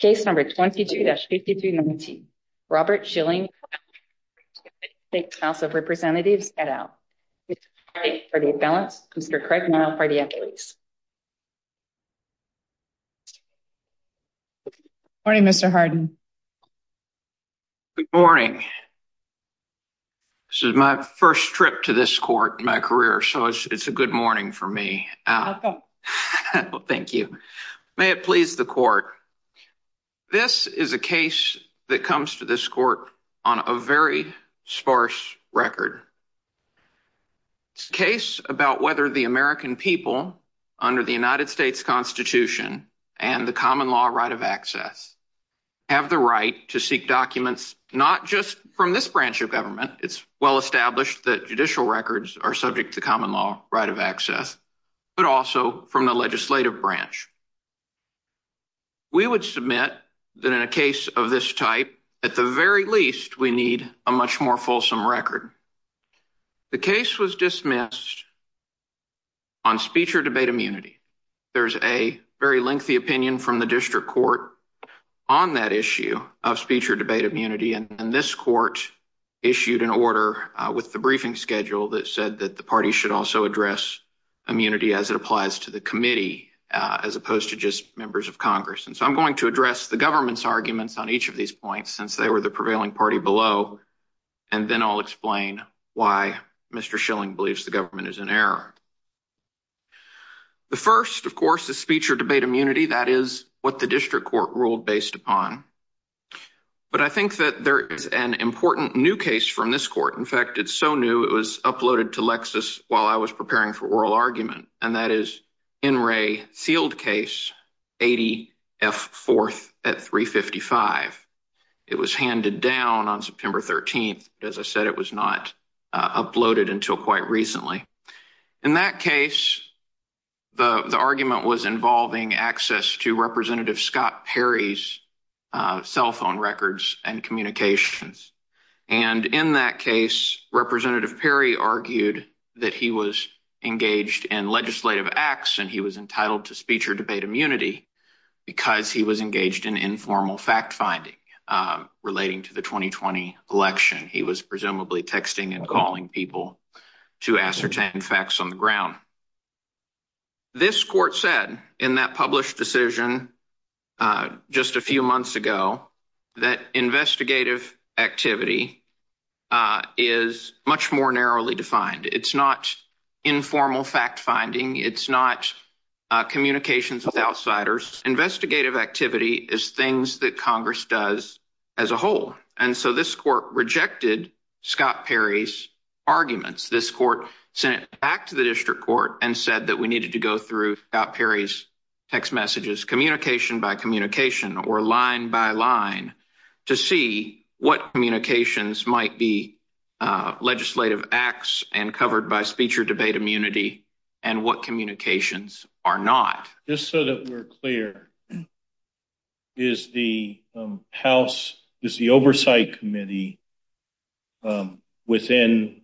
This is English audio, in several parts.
Case number 22-5219, Robert Schilling v. United States House of Representatives, head out. Mr. Craig Nile for the affidavits. Good morning, Mr. Harden. Good morning. This is my first trip to this court in my career. This is the court. This is a case that comes to this court on a very sparse record. It's a case about whether the American people under the United States Constitution and the common law right of access have the right to seek documents not just from this branch of government, it's well established that judicial records are subject to common law right of access, but also from the legislative branch. We would submit that in a case of this type, at the very least, we need a much more fulsome record. The case was dismissed on speech or debate immunity. There's a very lengthy opinion from the district court on that issue of speech or debate immunity, and this court issued an order with the briefing schedule that said that the party should also address immunity as it applies to the committee, as opposed to just members of Congress. And so I'm going to address the government's arguments on each of these points since they were the prevailing party below, and then I'll explain why Mr. Schilling believes the government is in error. The first, of course, is speech or debate immunity. That is what the district court ruled based upon. But I think that there is an important new case from this court. In fact, it's so new it was uploaded to Lexis while I was preparing for oral argument, and that is N. Ray Sealed Case 80 F. 4th at 355. It was handed down on September 13th. As I said, it was not uploaded until quite recently. In that case, the argument was involving access to Representative Scott Perry's cell phone records and communications. And in that case, Representative Perry argued that he was engaged in legislative acts and he was entitled to speech or debate immunity because he was engaged in informal fact-finding relating to the 2020 election. He was presumably texting and calling people to ascertain facts on the ground. This court said in that published decision just a few months ago that investigative activity is much more narrowly defined. It's not informal fact-finding. It's not communications with outsiders. Investigative activity is things that Congress does as a whole. And so this court rejected Scott Perry's arguments. This court sent it back to the district court and said that we needed to go through Scott Perry's text messages, communication by communication or line by line, to see what communications might be legislative acts and covered by speech or debate immunity and what communications are not. Just so that we're clear, is the House, is the Oversight Committee within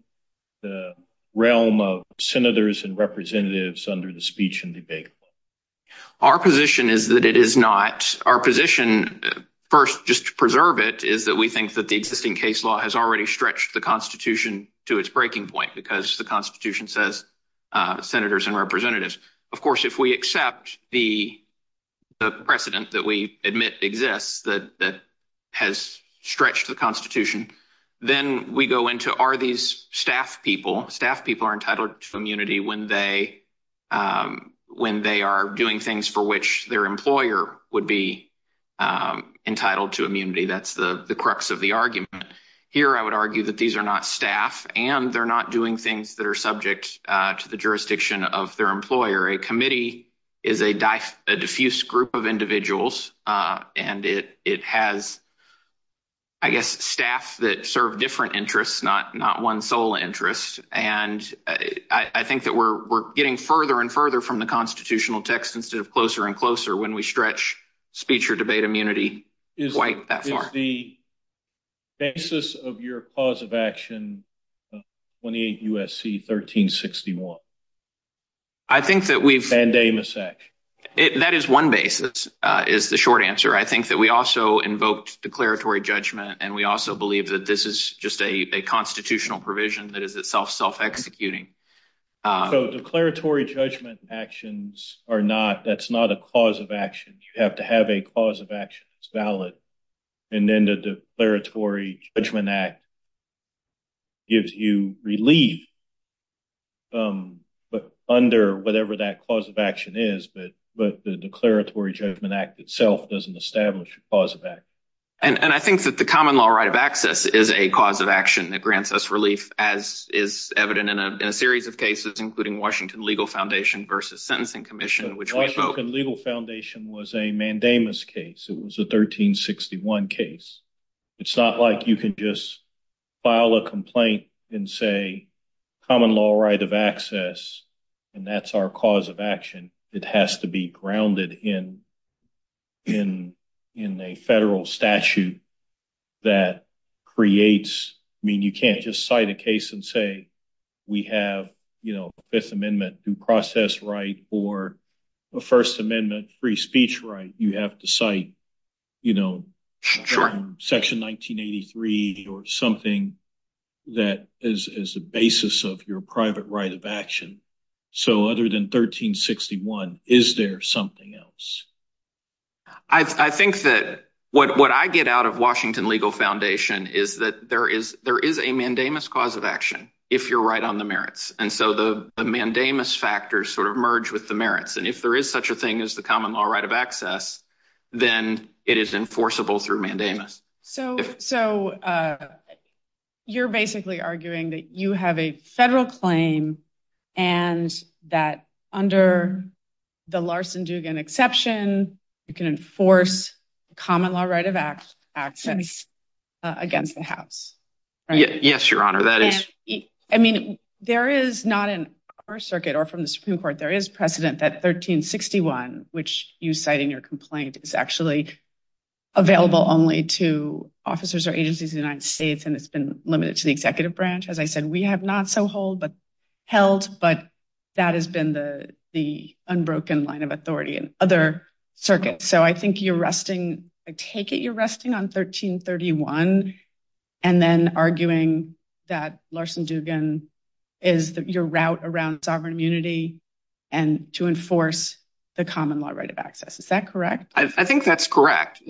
the realm of Senators and Representatives under the speech and debate? Our position is that it is not. Our position, first just to preserve it, is that we think that the existing case law has already stretched the Constitution to its breaking point because the Constitution says Senators and Representatives. Of course, if we accept the stretch to the Constitution, then we go into are these staff people, staff people are entitled to immunity when they are doing things for which their employer would be entitled to immunity. That's the crux of the argument. Here, I would argue that these are not staff and they're not doing things that are subject to the jurisdiction of their employer. A committee is a diffuse group of individuals and it has, I guess, staff that serve different interests, not one sole interest. I think that we're getting further and further from the Constitutional text instead of closer and closer when we stretch speech or debate immunity quite that far. Is the basis of your clause of action 28 U.S.C. 1361? I think that we've... Band-Aid Massacre. That is one basis, is the short answer. I think that we also invoked declaratory judgment and we also believe that this is just a constitutional provision that is itself self-executing. So declaratory judgment actions are not, that's not a clause of action. You have to have a clause of action that's valid and then the Declaratory Judgment Act gives you relief under whatever that clause of action is, but the Declaratory Judgment Act itself doesn't establish a clause of action. And I think that the common law right of access is a cause of action that grants us relief as is evident in a series of cases including Washington Legal Foundation versus Sentencing Commission which... Washington Legal Foundation was a mandamus case. It was a 1361 case. It's not like you can just file a complaint and say common law right of access and that's our cause of action. It has to be grounded in a federal statute that creates, I mean, you can't just cite a case and say we have, you know, Fifth Amendment due process right or a First Amendment free speech right. You have to cite, you know, section 1983 or something that is the basis of your private right of action. So other than 1361, is there something else? I think that what I get out of Washington Legal Foundation is that there is a mandamus cause of action if you're right on the merits. And so the mandamus factors sort of merge with the merits and if there is such a thing as the common law right of access, then it is enforceable through mandamus. So you're basically arguing that you have a federal claim and that under the Larson-Dugan exception, you can enforce common law right of access against the house. Yes, your honor. That is... I mean, there is not in our circuit or from the Supreme Court, there is precedent that 1361, which you cite in your complaint, is actually available only to officers or agencies in the United States and it's been limited to the executive branch. As I said, we have not so held, but that has been the unbroken line of authority in other circuits. So I think you're resting, I take it you're resting on 1331 and then arguing that Larson-Dugan is your route around sovereign immunity and to enforce the common law right of access. Is that correct? I think that's correct.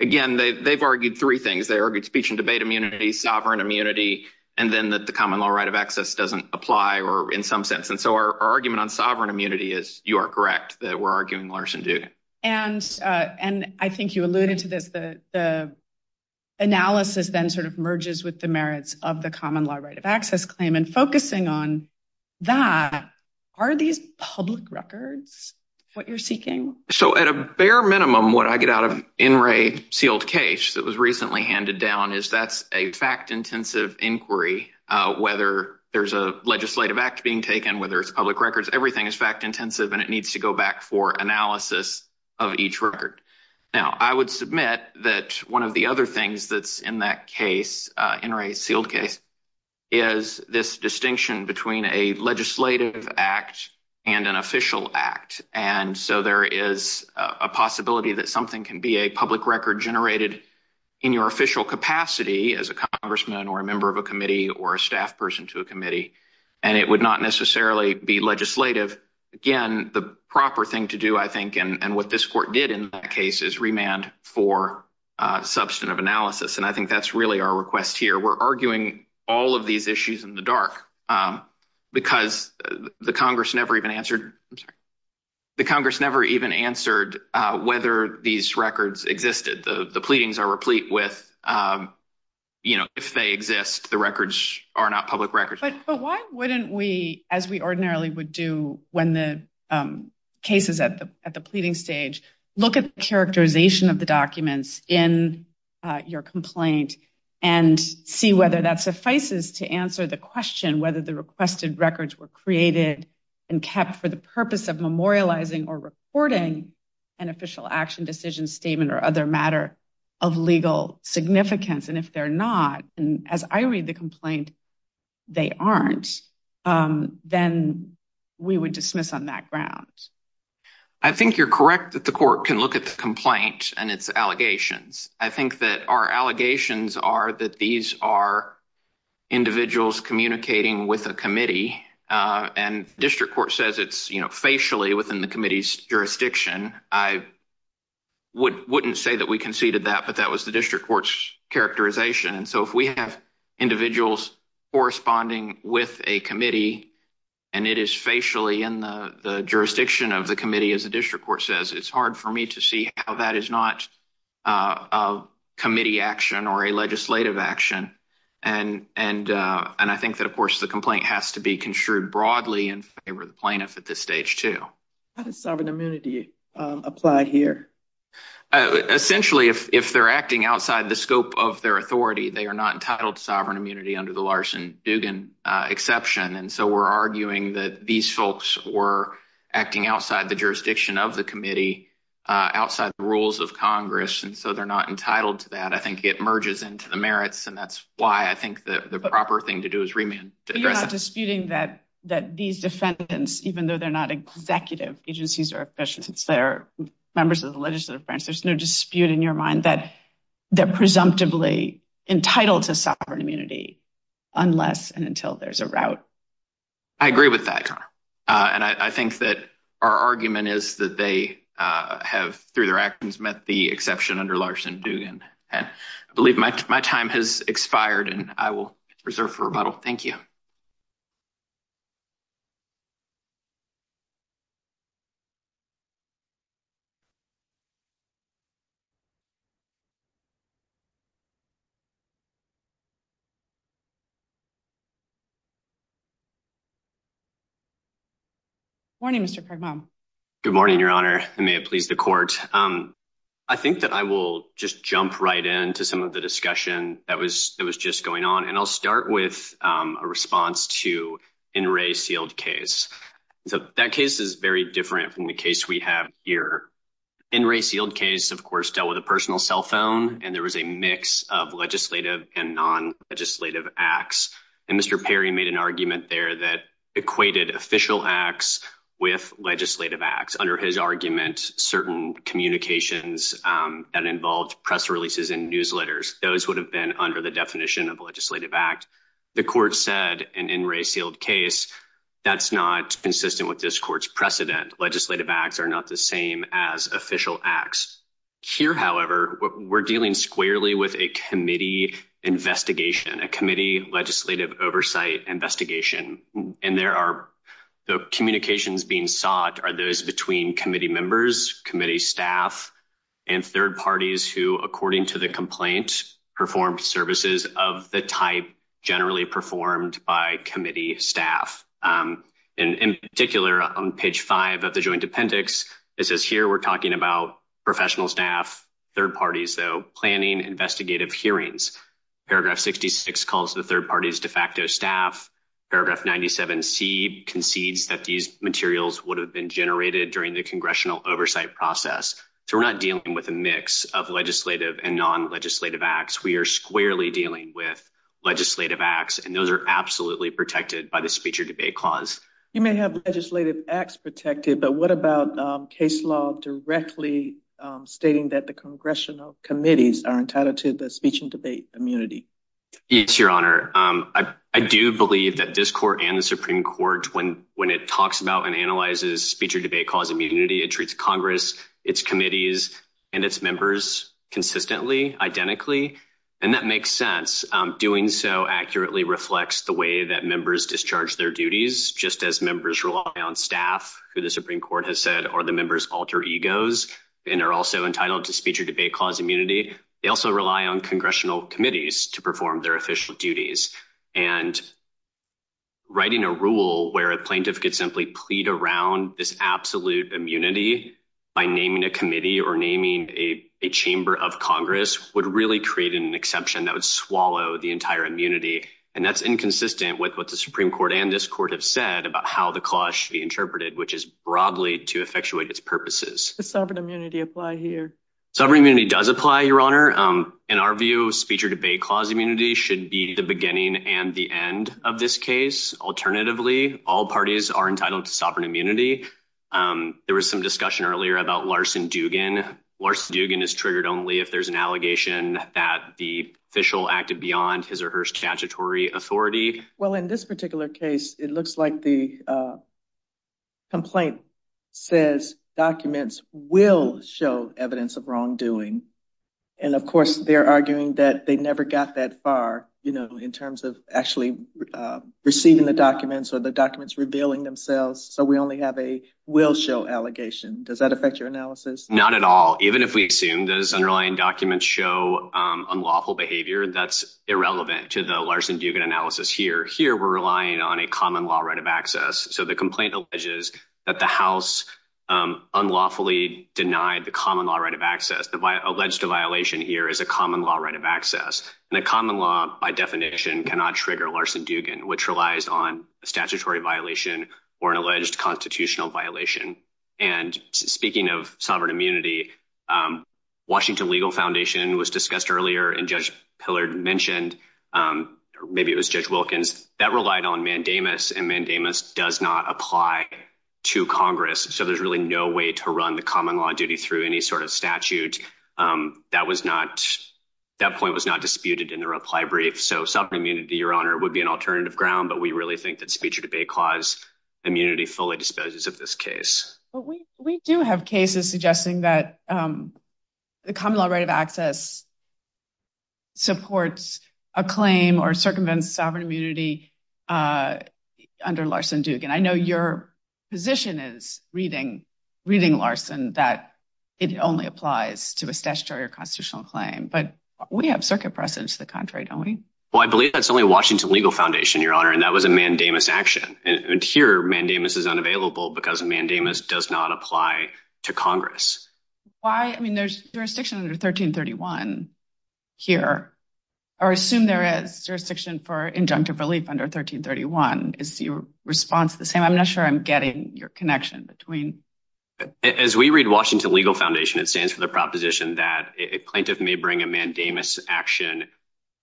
Again, they've argued three things. They argued speech and debate sovereign immunity, and then that the common law right of access doesn't apply or in some sense. And so our argument on sovereign immunity is you are correct that we're arguing Larson-Dugan. And I think you alluded to this, the analysis then sort of merges with the merits of the common law right of access claim and focusing on that, are these public records what you're seeking? So at a bare minimum, what I get out of NRA sealed case that was recently handed down is a fact intensive inquiry, whether there's a legislative act being taken, whether it's public records, everything is fact intensive and it needs to go back for analysis of each record. Now, I would submit that one of the other things that's in that case, NRA sealed case, is this distinction between a legislative act and an official act. And so there is a possibility that something can be a public record generated in your official capacity as a congressman or a member of a committee or a staff person to a committee, and it would not necessarily be legislative. Again, the proper thing to do, I think, and what this court did in that case is remand for substantive analysis. And I think that's really our request here. We're arguing all of these issues in the dark because the Congress never even answered, I'm sorry, the Congress never even answered whether these records existed. The pleadings are replete with, you know, if they exist, the records are not public records. But why wouldn't we, as we ordinarily would do when the case is at the pleading stage, look at the characterization of the documents in your complaint and see whether that suffices to answer the question whether the requested records were created and kept for the purpose of memorializing or reporting an official action decision statement or other matter of legal significance. And if they're not, and as I read the complaint, they aren't, then we would dismiss on that ground. I think you're correct that the court can look at the complaint and its allegations. I think that our allegations are that these are individuals communicating with a committee, and district court says it's, you know, facially within the committee's jurisdiction. I wouldn't say that we conceded that, but that was the district court's characterization. And so if we have individuals corresponding with a committee, and it is facially in the jurisdiction of the committee, as the district court says, it's hard for me to see how that is not a committee action or a legislative action. And I think that, of course, the complaint has to be construed broadly in favor of the plaintiff at this stage too. How does sovereign immunity apply here? Essentially, if they're acting outside the scope of their authority, they are not entitled to sovereign immunity under the Larson-Dugan exception. And so we're arguing that these folks were acting outside the jurisdiction of the committee, outside the rules of Congress, and so they're not entitled to that. I think it merges into the merits, and that's why I think that the proper thing to do is remand. You're not disputing that these defendants, even though they're not executive agencies or officials, it's their members of the legislative branch, there's no dispute in your mind that they're presumptively entitled to sovereign immunity unless and until there's a route. I agree with that. And I think that our argument is that they have, through their actions, met the exception under Larson-Dugan. And I believe my time has expired, and I will reserve for rebuttal. Thank you. Good morning, Mr. Kragbaum. Good morning, Your Honor, and may it please the court. I think that I will just jump right into some of the discussion that was just going on, and I'll start with a response to N. Ray Seald's case. That case is very different from the case we have here. N. Ray Seald's case, of course, dealt with a personal cell phone, and there was a mix of legislative and non-legislative acts. And Mr. Perry made an argument there that equated official acts with legislative acts. Under his argument, certain communications that involved press releases and newsletters, those would have been under the definition of legislative act. The court said, in N. Ray Seald's case, that's not consistent with this court's precedent. Legislative acts are not the same as official acts. Here, however, we're dealing squarely with a committee investigation, a committee legislative oversight investigation. And there are the communications being sought are those between committee members, committee staff, and third parties who, according to the complaint, performed services of the type generally performed by committee staff. And in particular, on page five of the joint appendix, it says here we're talking about professional staff, third parties, though, planning investigative hearings. Paragraph 66 calls the third party's de facto staff. Paragraph 97C concedes that these materials would have been generated during the congressional oversight process. So we're not dealing with a mix of legislative and non-legislative acts. We are squarely dealing with legislative acts, and those are absolutely protected by the speech or debate clause. You may have legislative acts protected, but what about case law directly stating that the congressional committees are entitled to the speech and debate immunity? Yes, Your Honor. I do believe that this court and the Supreme Court, when it talks about and analyzes speech or debate clause immunity, it treats Congress, its committees, and its members consistently, identically. And that makes sense. Doing so accurately reflects the way that members discharge their duties, just as members rely on staff, who the Supreme Court has said, or the members alter egos and are also entitled to speech or debate clause immunity. They also rely on congressional committees to perform their Plaintiff could simply plead around this absolute immunity by naming a committee or naming a chamber of Congress would really create an exception that would swallow the entire immunity. And that's inconsistent with what the Supreme Court and this court have said about how the clause should be interpreted, which is broadly to effectuate its purposes. Does sovereign immunity apply here? Sovereign immunity does apply, Your Honor. In our view, speech or debate clause should be the beginning and the end of this case. Alternatively, all parties are entitled to sovereign immunity. There was some discussion earlier about Larson Dugan. Larson Dugan is triggered only if there's an allegation that the official acted beyond his or her statutory authority. Well, in this particular case, it looks like the complaint says documents will show evidence of wrongdoing. And of course, they're arguing that they never got that far, you know, in terms of actually receiving the documents or the documents revealing themselves. So we only have a will show allegation. Does that affect your analysis? Not at all. Even if we assume those underlying documents show unlawful behavior, that's irrelevant to the Larson Dugan analysis here. Here we're relying on a common law right of access. So the complaint alleges that the House unlawfully denied the common law right of access. The alleged violation here is a common law right of access. And a common law, by definition, cannot trigger Larson Dugan, which relies on a statutory violation or an alleged constitutional violation. And speaking of sovereign immunity, Washington Legal Foundation was discussed earlier, and Judge Pillard mentioned, maybe it was Judge Wilkins, that relied on mandamus, and mandamus does not apply to Congress. So there's really no way to run the common law duty through any sort of statute. That point was not disputed in the reply brief. So sovereign immunity, Your Honor, would be an alternative ground. But we really think that speech or debate clause immunity fully disposes of this case. But we do have cases suggesting that the common law right of access supports a claim or circumvents sovereign immunity under Larson Dugan. I know your position is, reading Larson, that it only applies to a statutory or constitutional claim. But we have circuit precedents to the contrary, don't we? Well, I believe that's only a Washington Legal Foundation, Your Honor, and that was a mandamus action. And here, mandamus is unavailable because mandamus does not apply to Congress. Why? I mean, there's jurisdiction under 1331 here. Or assume there is jurisdiction for injunctive relief under 1331. Is your response the same? I'm not sure I'm getting your connection between... As we read Washington Legal Foundation, it stands for the proposition that a plaintiff may bring a mandamus action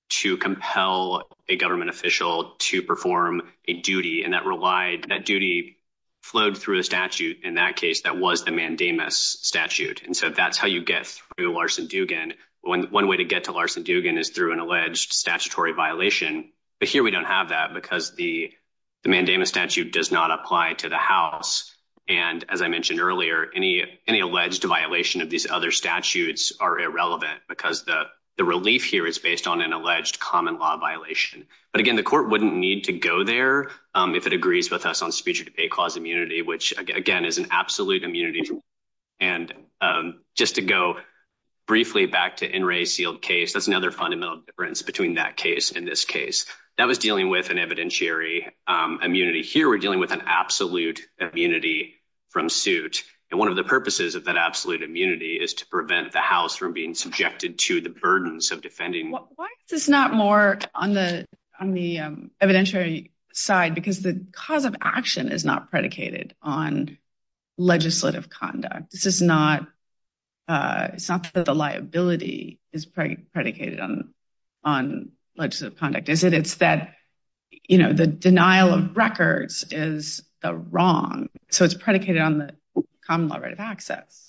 to compel a government official to perform a duty, and that duty flowed through a statute. In that case, that was the mandamus statute. And so that's how you get through Larson Dugan. One way to get to Larson Dugan is through an alleged statutory violation. But here, we don't have that because the mandamus statute does not apply to the House. And as I mentioned earlier, any alleged violation of these other statutes are irrelevant because the relief here is based on an alleged common law violation. But again, the court wouldn't need to go there if it agrees with us on speech or debate clause immunity, which, again, is an absolute immunity. And just to go briefly back to NRA's sealed case, that's another fundamental difference between that case and this case. That was dealing with an evidentiary immunity. Here, we're dealing with an absolute immunity from suit. And one of the purposes of that absolute immunity is to prevent the House from being subjected to the burdens of defending... Why is this not more on the evidentiary side? Because the cause of action is not predicated on legislative conduct. It's not that the liability is predicated on legislative conduct, is it? It's that the denial of records is wrong. So it's predicated on the common law right of access.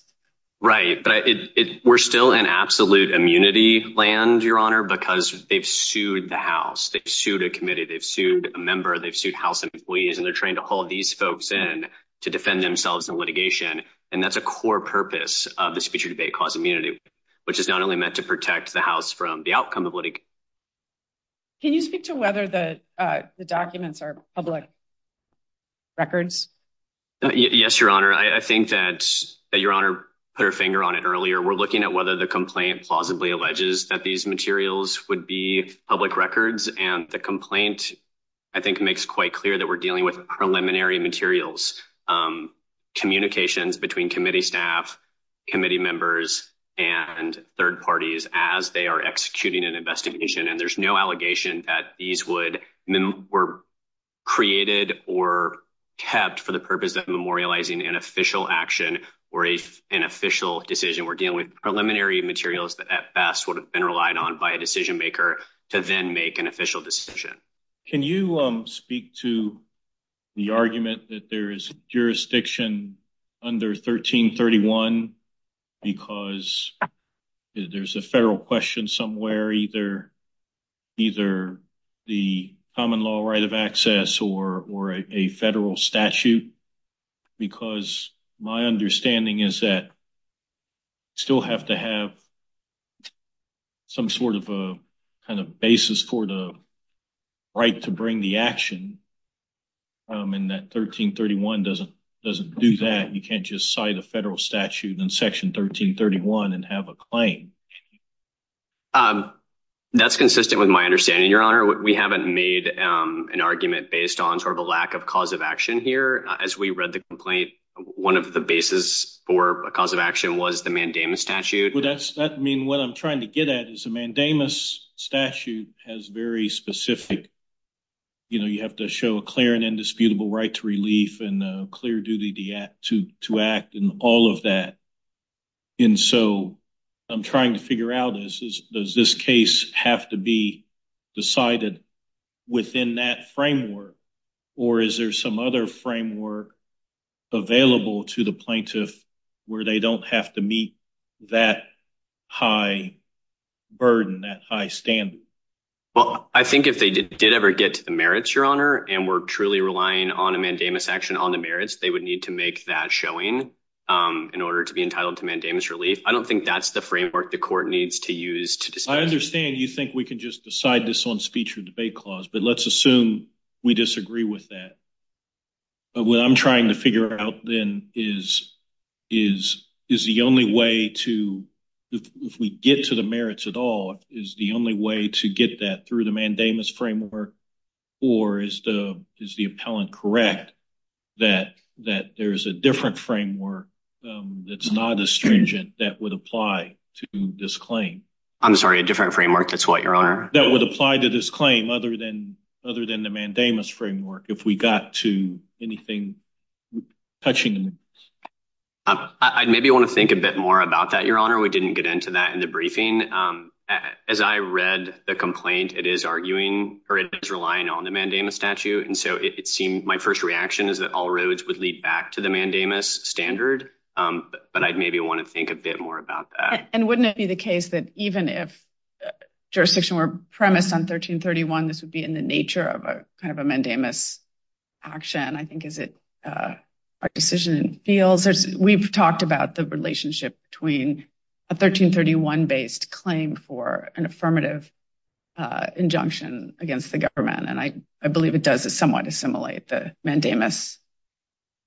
Right. But we're still in absolute immunity land, Your Honor, because they've sued the House. They've sued a committee. They've sued a member. They've sued House to defend themselves in litigation. And that's a core purpose of the speech or debate clause immunity, which is not only meant to protect the House from the outcome of litigation. Can you speak to whether the documents are public records? Yes, Your Honor. I think that Your Honor put her finger on it earlier. We're looking at whether the complaint plausibly alleges that these materials would be public records. And the preliminary materials, communications between committee staff, committee members, and third parties as they are executing an investigation. And there's no allegation that these were created or kept for the purpose of memorializing an official action or an official decision. We're dealing with preliminary materials that at best would have been relied on by a decision maker to then make an official decision. Can you speak to the argument that there is jurisdiction under 1331 because there's a federal question somewhere, either the common law right of access or a federal statute? Because my understanding is that we still have to have some sort of a basis for the right to bring the action. And that 1331 doesn't do that. You can't just cite a federal statute in Section 1331 and have a claim. That's consistent with my understanding, Your Honor. We haven't made an argument based on sort of a lack of cause of action here. As we read the complaint, one of the basis for a cause of action was the mandamus statute. That means what I'm trying to get at is a mandamus statute has very specific, you know, you have to show a clear and indisputable right to relief and a clear duty to act and all of that. And so, I'm trying to figure out, does this case have to be decided within that framework or is there some other framework available to the plaintiff where they don't have to meet that high burden, that high standard? Well, I think if they did ever get to the merits, Your Honor, and were truly relying on a mandamus action on the merits, they would need to make that showing in order to be entitled to mandamus relief. I don't think that's the framework the court needs to use to decide. I understand you think we can just decide this on speech or debate clause, but let's assume we disagree with that. But what I'm trying to figure out, then, is the only way to, if we get to the merits at all, is the only way to get that through the mandamus framework or is the appellant correct that there's a different framework that's not as stringent that would apply to this claim? I'm sorry, a different framework, that's what, Your Honor? That would apply to this claim other than the mandamus framework. If we got to anything touching the merits. I'd maybe want to think a bit more about that, Your Honor. We didn't get into that in the briefing. As I read the complaint, it is arguing or it is relying on the mandamus statute, and so it seemed my first reaction is that all roads would lead back to the mandamus standard. But I'd maybe want to think a bit more about that. And wouldn't it be the case that even if jurisdiction were premised on 1331, this would be in the nature of a kind of a mandamus action? I think is it a decision in fields? We've talked about the relationship between a 1331-based claim for an affirmative injunction against the government, and I believe it does somewhat assimilate the mandamus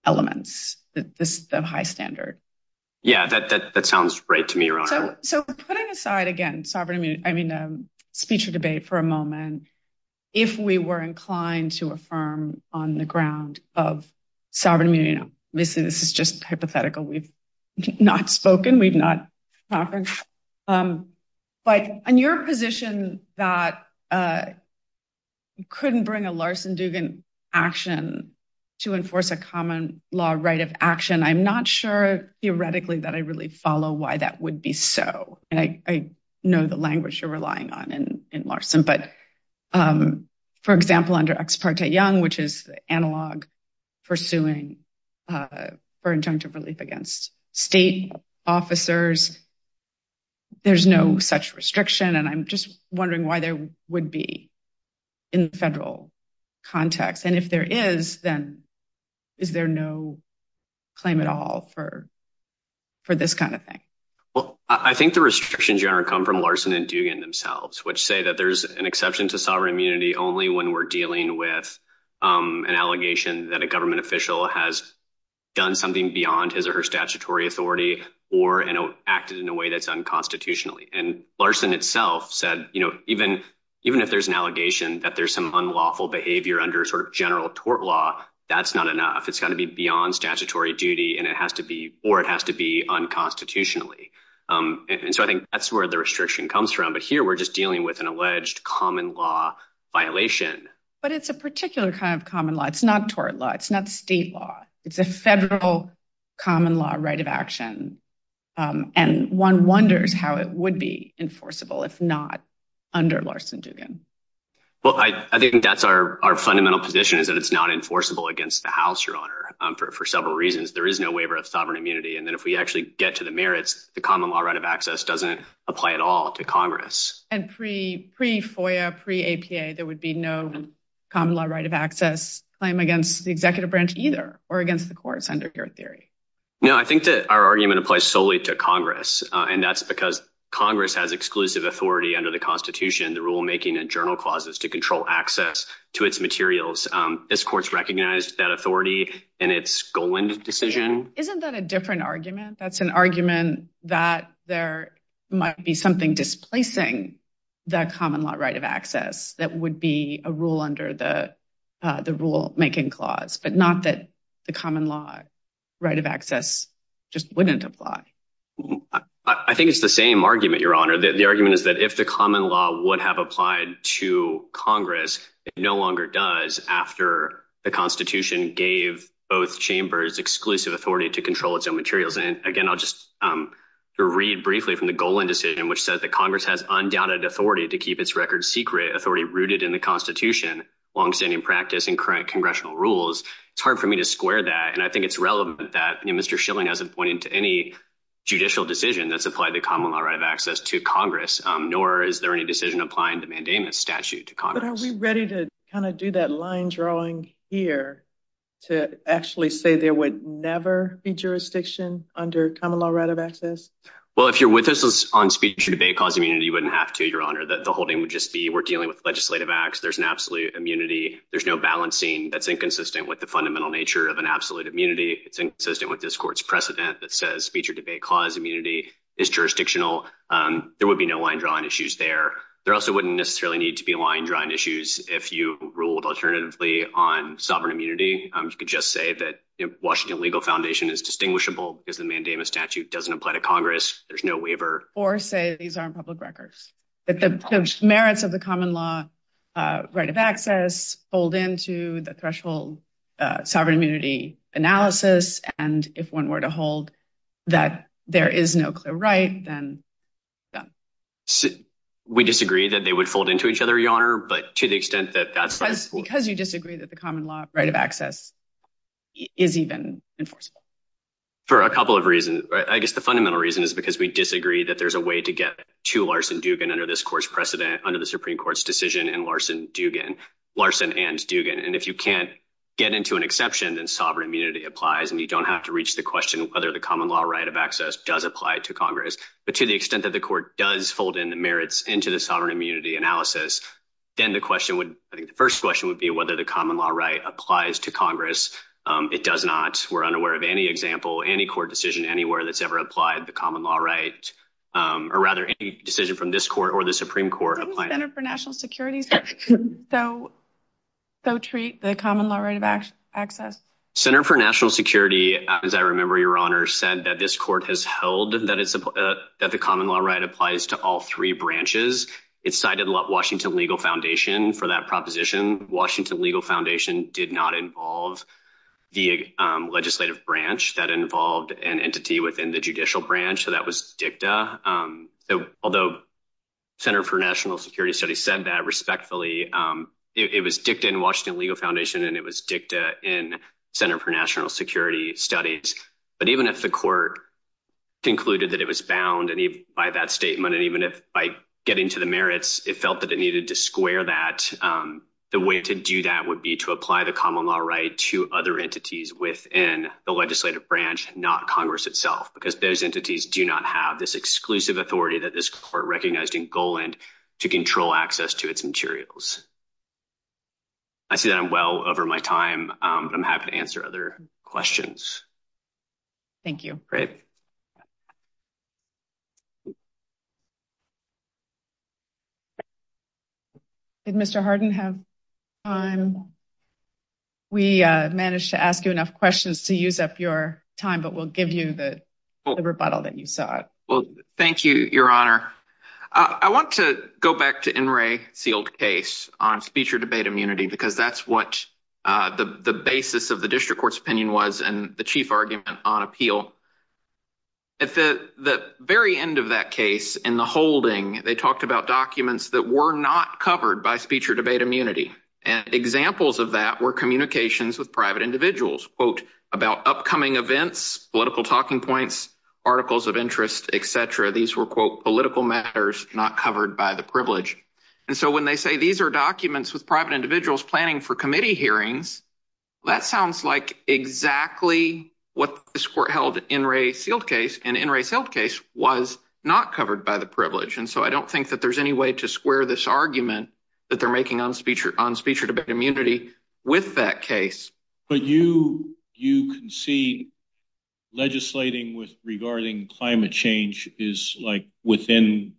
elements, the high standard. Yeah, that sounds right to me, Your Honor. So putting aside, again, speech or debate for a moment, if we were inclined to affirm on the ground of sovereign immunity, obviously, this is just hypothetical. We've not spoken, we've not talked. But on your position that you couldn't bring a Larsen-Dugan action to enforce a common law right of action, I'm not sure theoretically that I really follow why that would be so. And I know the language you're relying on in Larsen, but for example, under Ex parte Young, which is analog for suing for injunctive relief against state officers, there's no such restriction. And I'm just wondering why there would be in federal context. And if there is, then is there no claim at all for this kind of thing? Well, I think the restrictions, Your Honor, come from Larsen and Dugan themselves, which say that there's an unlawful behavior under a sort of general tort law, that's not enough. It's got to be beyond statutory duty, and it has to be, or it has to be unconstitutionally. And so I think that's where the restriction comes from. But here, we're just dealing with an alleged we're just dealing with an alleged common law violation. And so I think that's where the But it's a particular kind of common law. It's not tort law. It's not state law. It's a federal common law right of action. And one wonders how it would be enforceable if not under Larsen-Dugan. Well, I think that's our fundamental position is that it's not enforceable against the House, Your Honor, for several reasons. There is no waiver of sovereign immunity. And then if we actually get to the merits, the common law right of access doesn't apply at all to Congress. And pre-FOIA, pre-APA, there would be no common law right of access claim against the executive branch either or against the courts under your theory. No, I think that our argument applies solely to Congress. And that's because Congress has exclusive authority under the Constitution, the rulemaking and journal clauses to control access to its materials. This court's recognized that authority in its Goland decision. Isn't that a different argument? That's an argument that there might be something displacing the common law right of access that would be a rule under the rulemaking clause, but not that the common law right of access just wouldn't apply. I think it's the same argument, Your Honor. The argument is that if the common law would have applied to Congress, it no longer does after the Constitution gave both chambers exclusive authority to control its own materials. And again, I'll just read briefly from the Goland decision, which says that Congress has undoubted authority to keep its record secret authority rooted in the Constitution, longstanding practice and current congressional rules. It's hard for me to square that. And I think it's relevant that Mr. Schilling hasn't pointed to any judicial decision that's applied the common law right of access to Congress, nor is there any decision applying the mandamus statute to Congress. But are we ready to kind of do that line drawing here to actually say there would never be jurisdiction under common law right of access? Well, if you're with us on speech or debate cause immunity, you wouldn't have to, Your Honor. The holding would just be we're dealing with legislative acts. There's an absolute immunity. There's no balancing that's inconsistent with the fundamental nature of an absolute immunity. It's inconsistent with this court's precedent that says speech or debate cause immunity is jurisdictional. There would be no line drawing issues there. There also wouldn't necessarily need to be line drawing issues. If you ruled alternatively on sovereign immunity, you could just say that Washington Legal Foundation is distinguishable because the mandamus statute doesn't apply to Congress. There's no waiver. Or say these aren't public records, that the merits of the common law right of access fold into the threshold sovereign immunity analysis. And if one were to hold that there is no clear right, then done. We disagree that they would fold into each other, Your Honor, but to the extent that that's- Because you disagree that the common law right of access is even enforceable. For a couple of reasons. I guess the fundamental reason is because we disagree that there's a way to get to Larson-Dugan under this court's precedent, under the Supreme Court's decision in Larson-Dugan, Larson and Dugan. And if you can't get into an exception, then sovereign immunity applies and you don't have to reach the question whether the common law right of access does apply to Congress. But to the extent that the court does fold in the merits into the sovereign immunity analysis, then the question would, I think the first question would be whether the common law right applies to Congress. It does not. We're unaware of any example, any court decision anywhere that's ever applied the common law right, or rather any decision from this court or the Supreme Court- Doesn't the Center for National Security still treat the common law right of access- Center for National Security, as I remember, Your Honor, said that this court has held that the common law right applies to all three branches. It cited Washington Legal Foundation for that proposition. Washington Legal Foundation did not involve the legislative branch that involved an entity within the judicial branch, so that was dicta. Although Center for National Security said that respectfully, it was dicta in Washington Legal Foundation and it was dicta in Center for National Security studies. But even if the court concluded that it was bound by that statement, and even if by getting to the merits, it felt that it needed to square that, the way to do that would be to apply the common law right to other entities within the legislative branch, not Congress itself, because those entities do not have this exclusive authority that this court recognized in Goland to control access to its materials. I see that I'm well over my time. I'm happy to answer other questions. Thank you. Did Mr. Harden have time? We managed to ask you enough questions to use up your time, but we'll give you the rebuttal that you sought. Well, thank you, Your Honor. I want to go back to NRA's sealed case on speech or debate immunity, because that's what the basis of the district court's opinion was and the chief argument on appeal. At the very end of that case, in the holding, they talked about documents that were not covered by speech or debate immunity. Examples of that were communications with private individuals, quote, about upcoming events, political talking points, articles of interest, et cetera. These were, quote, political matters not covered by the privilege. When they say these are documents with private individuals planning for committee hearings, that sounds like exactly what this court held in NRA's sealed case, and NRA's sealed case was not covered by the privilege. I don't think that there's any way to square this argument that they're making on speech or debate immunity with that case. But you concede legislating regarding climate change is, like, within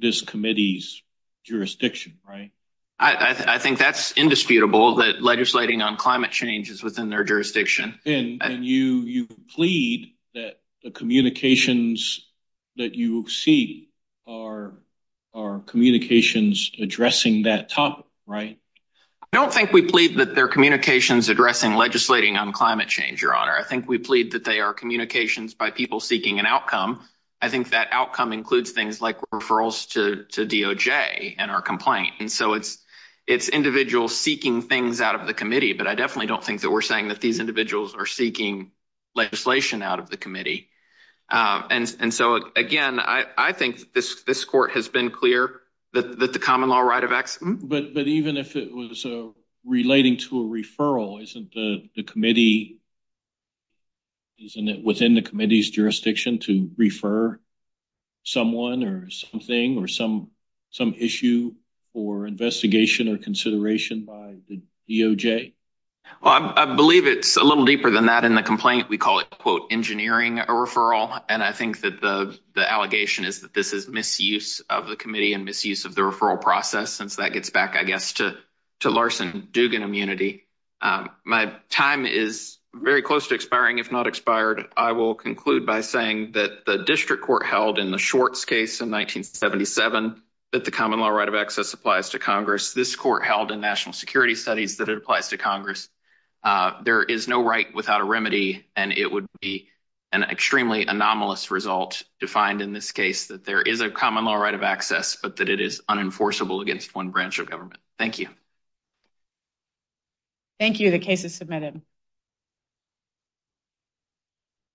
this committee's jurisdiction, right? I think that's indisputable that legislating on climate change is within their jurisdiction. And you plead that the communications that you see are communications addressing that topic, right? I don't think we plead that they're communications addressing legislating on climate change, Your Honor. I think we plead that they are communications by people seeking an outcome. I think that outcome includes things like referrals to DOJ and our complaint. And so it's individuals seeking things out of the committee, but I definitely don't think that we're saying that these individuals are seeking legislation out of the committee. And so, again, I think this court has been clear that the common law right of exit— But even if it was relating to a referral, isn't the committee—isn't it within the committee's jurisdiction to refer someone or something or some issue for investigation or consideration by the DOJ? Well, I believe it's a little deeper than that in the complaint. We call it, quote, engineering a referral, and I think that the misuse of the committee and misuse of the referral process, since that gets back, I guess, to Larson Dugan immunity. My time is very close to expiring. If not expired, I will conclude by saying that the district court held in the Schwartz case in 1977 that the common law right of access applies to Congress. This court held in national security studies that it applies to Congress. There is no right without a remedy, and it would be an extremely anomalous result to find in this case that there is a common law right of access, but that it is unenforceable against one branch of government. Thank you. Thank you. The case is submitted.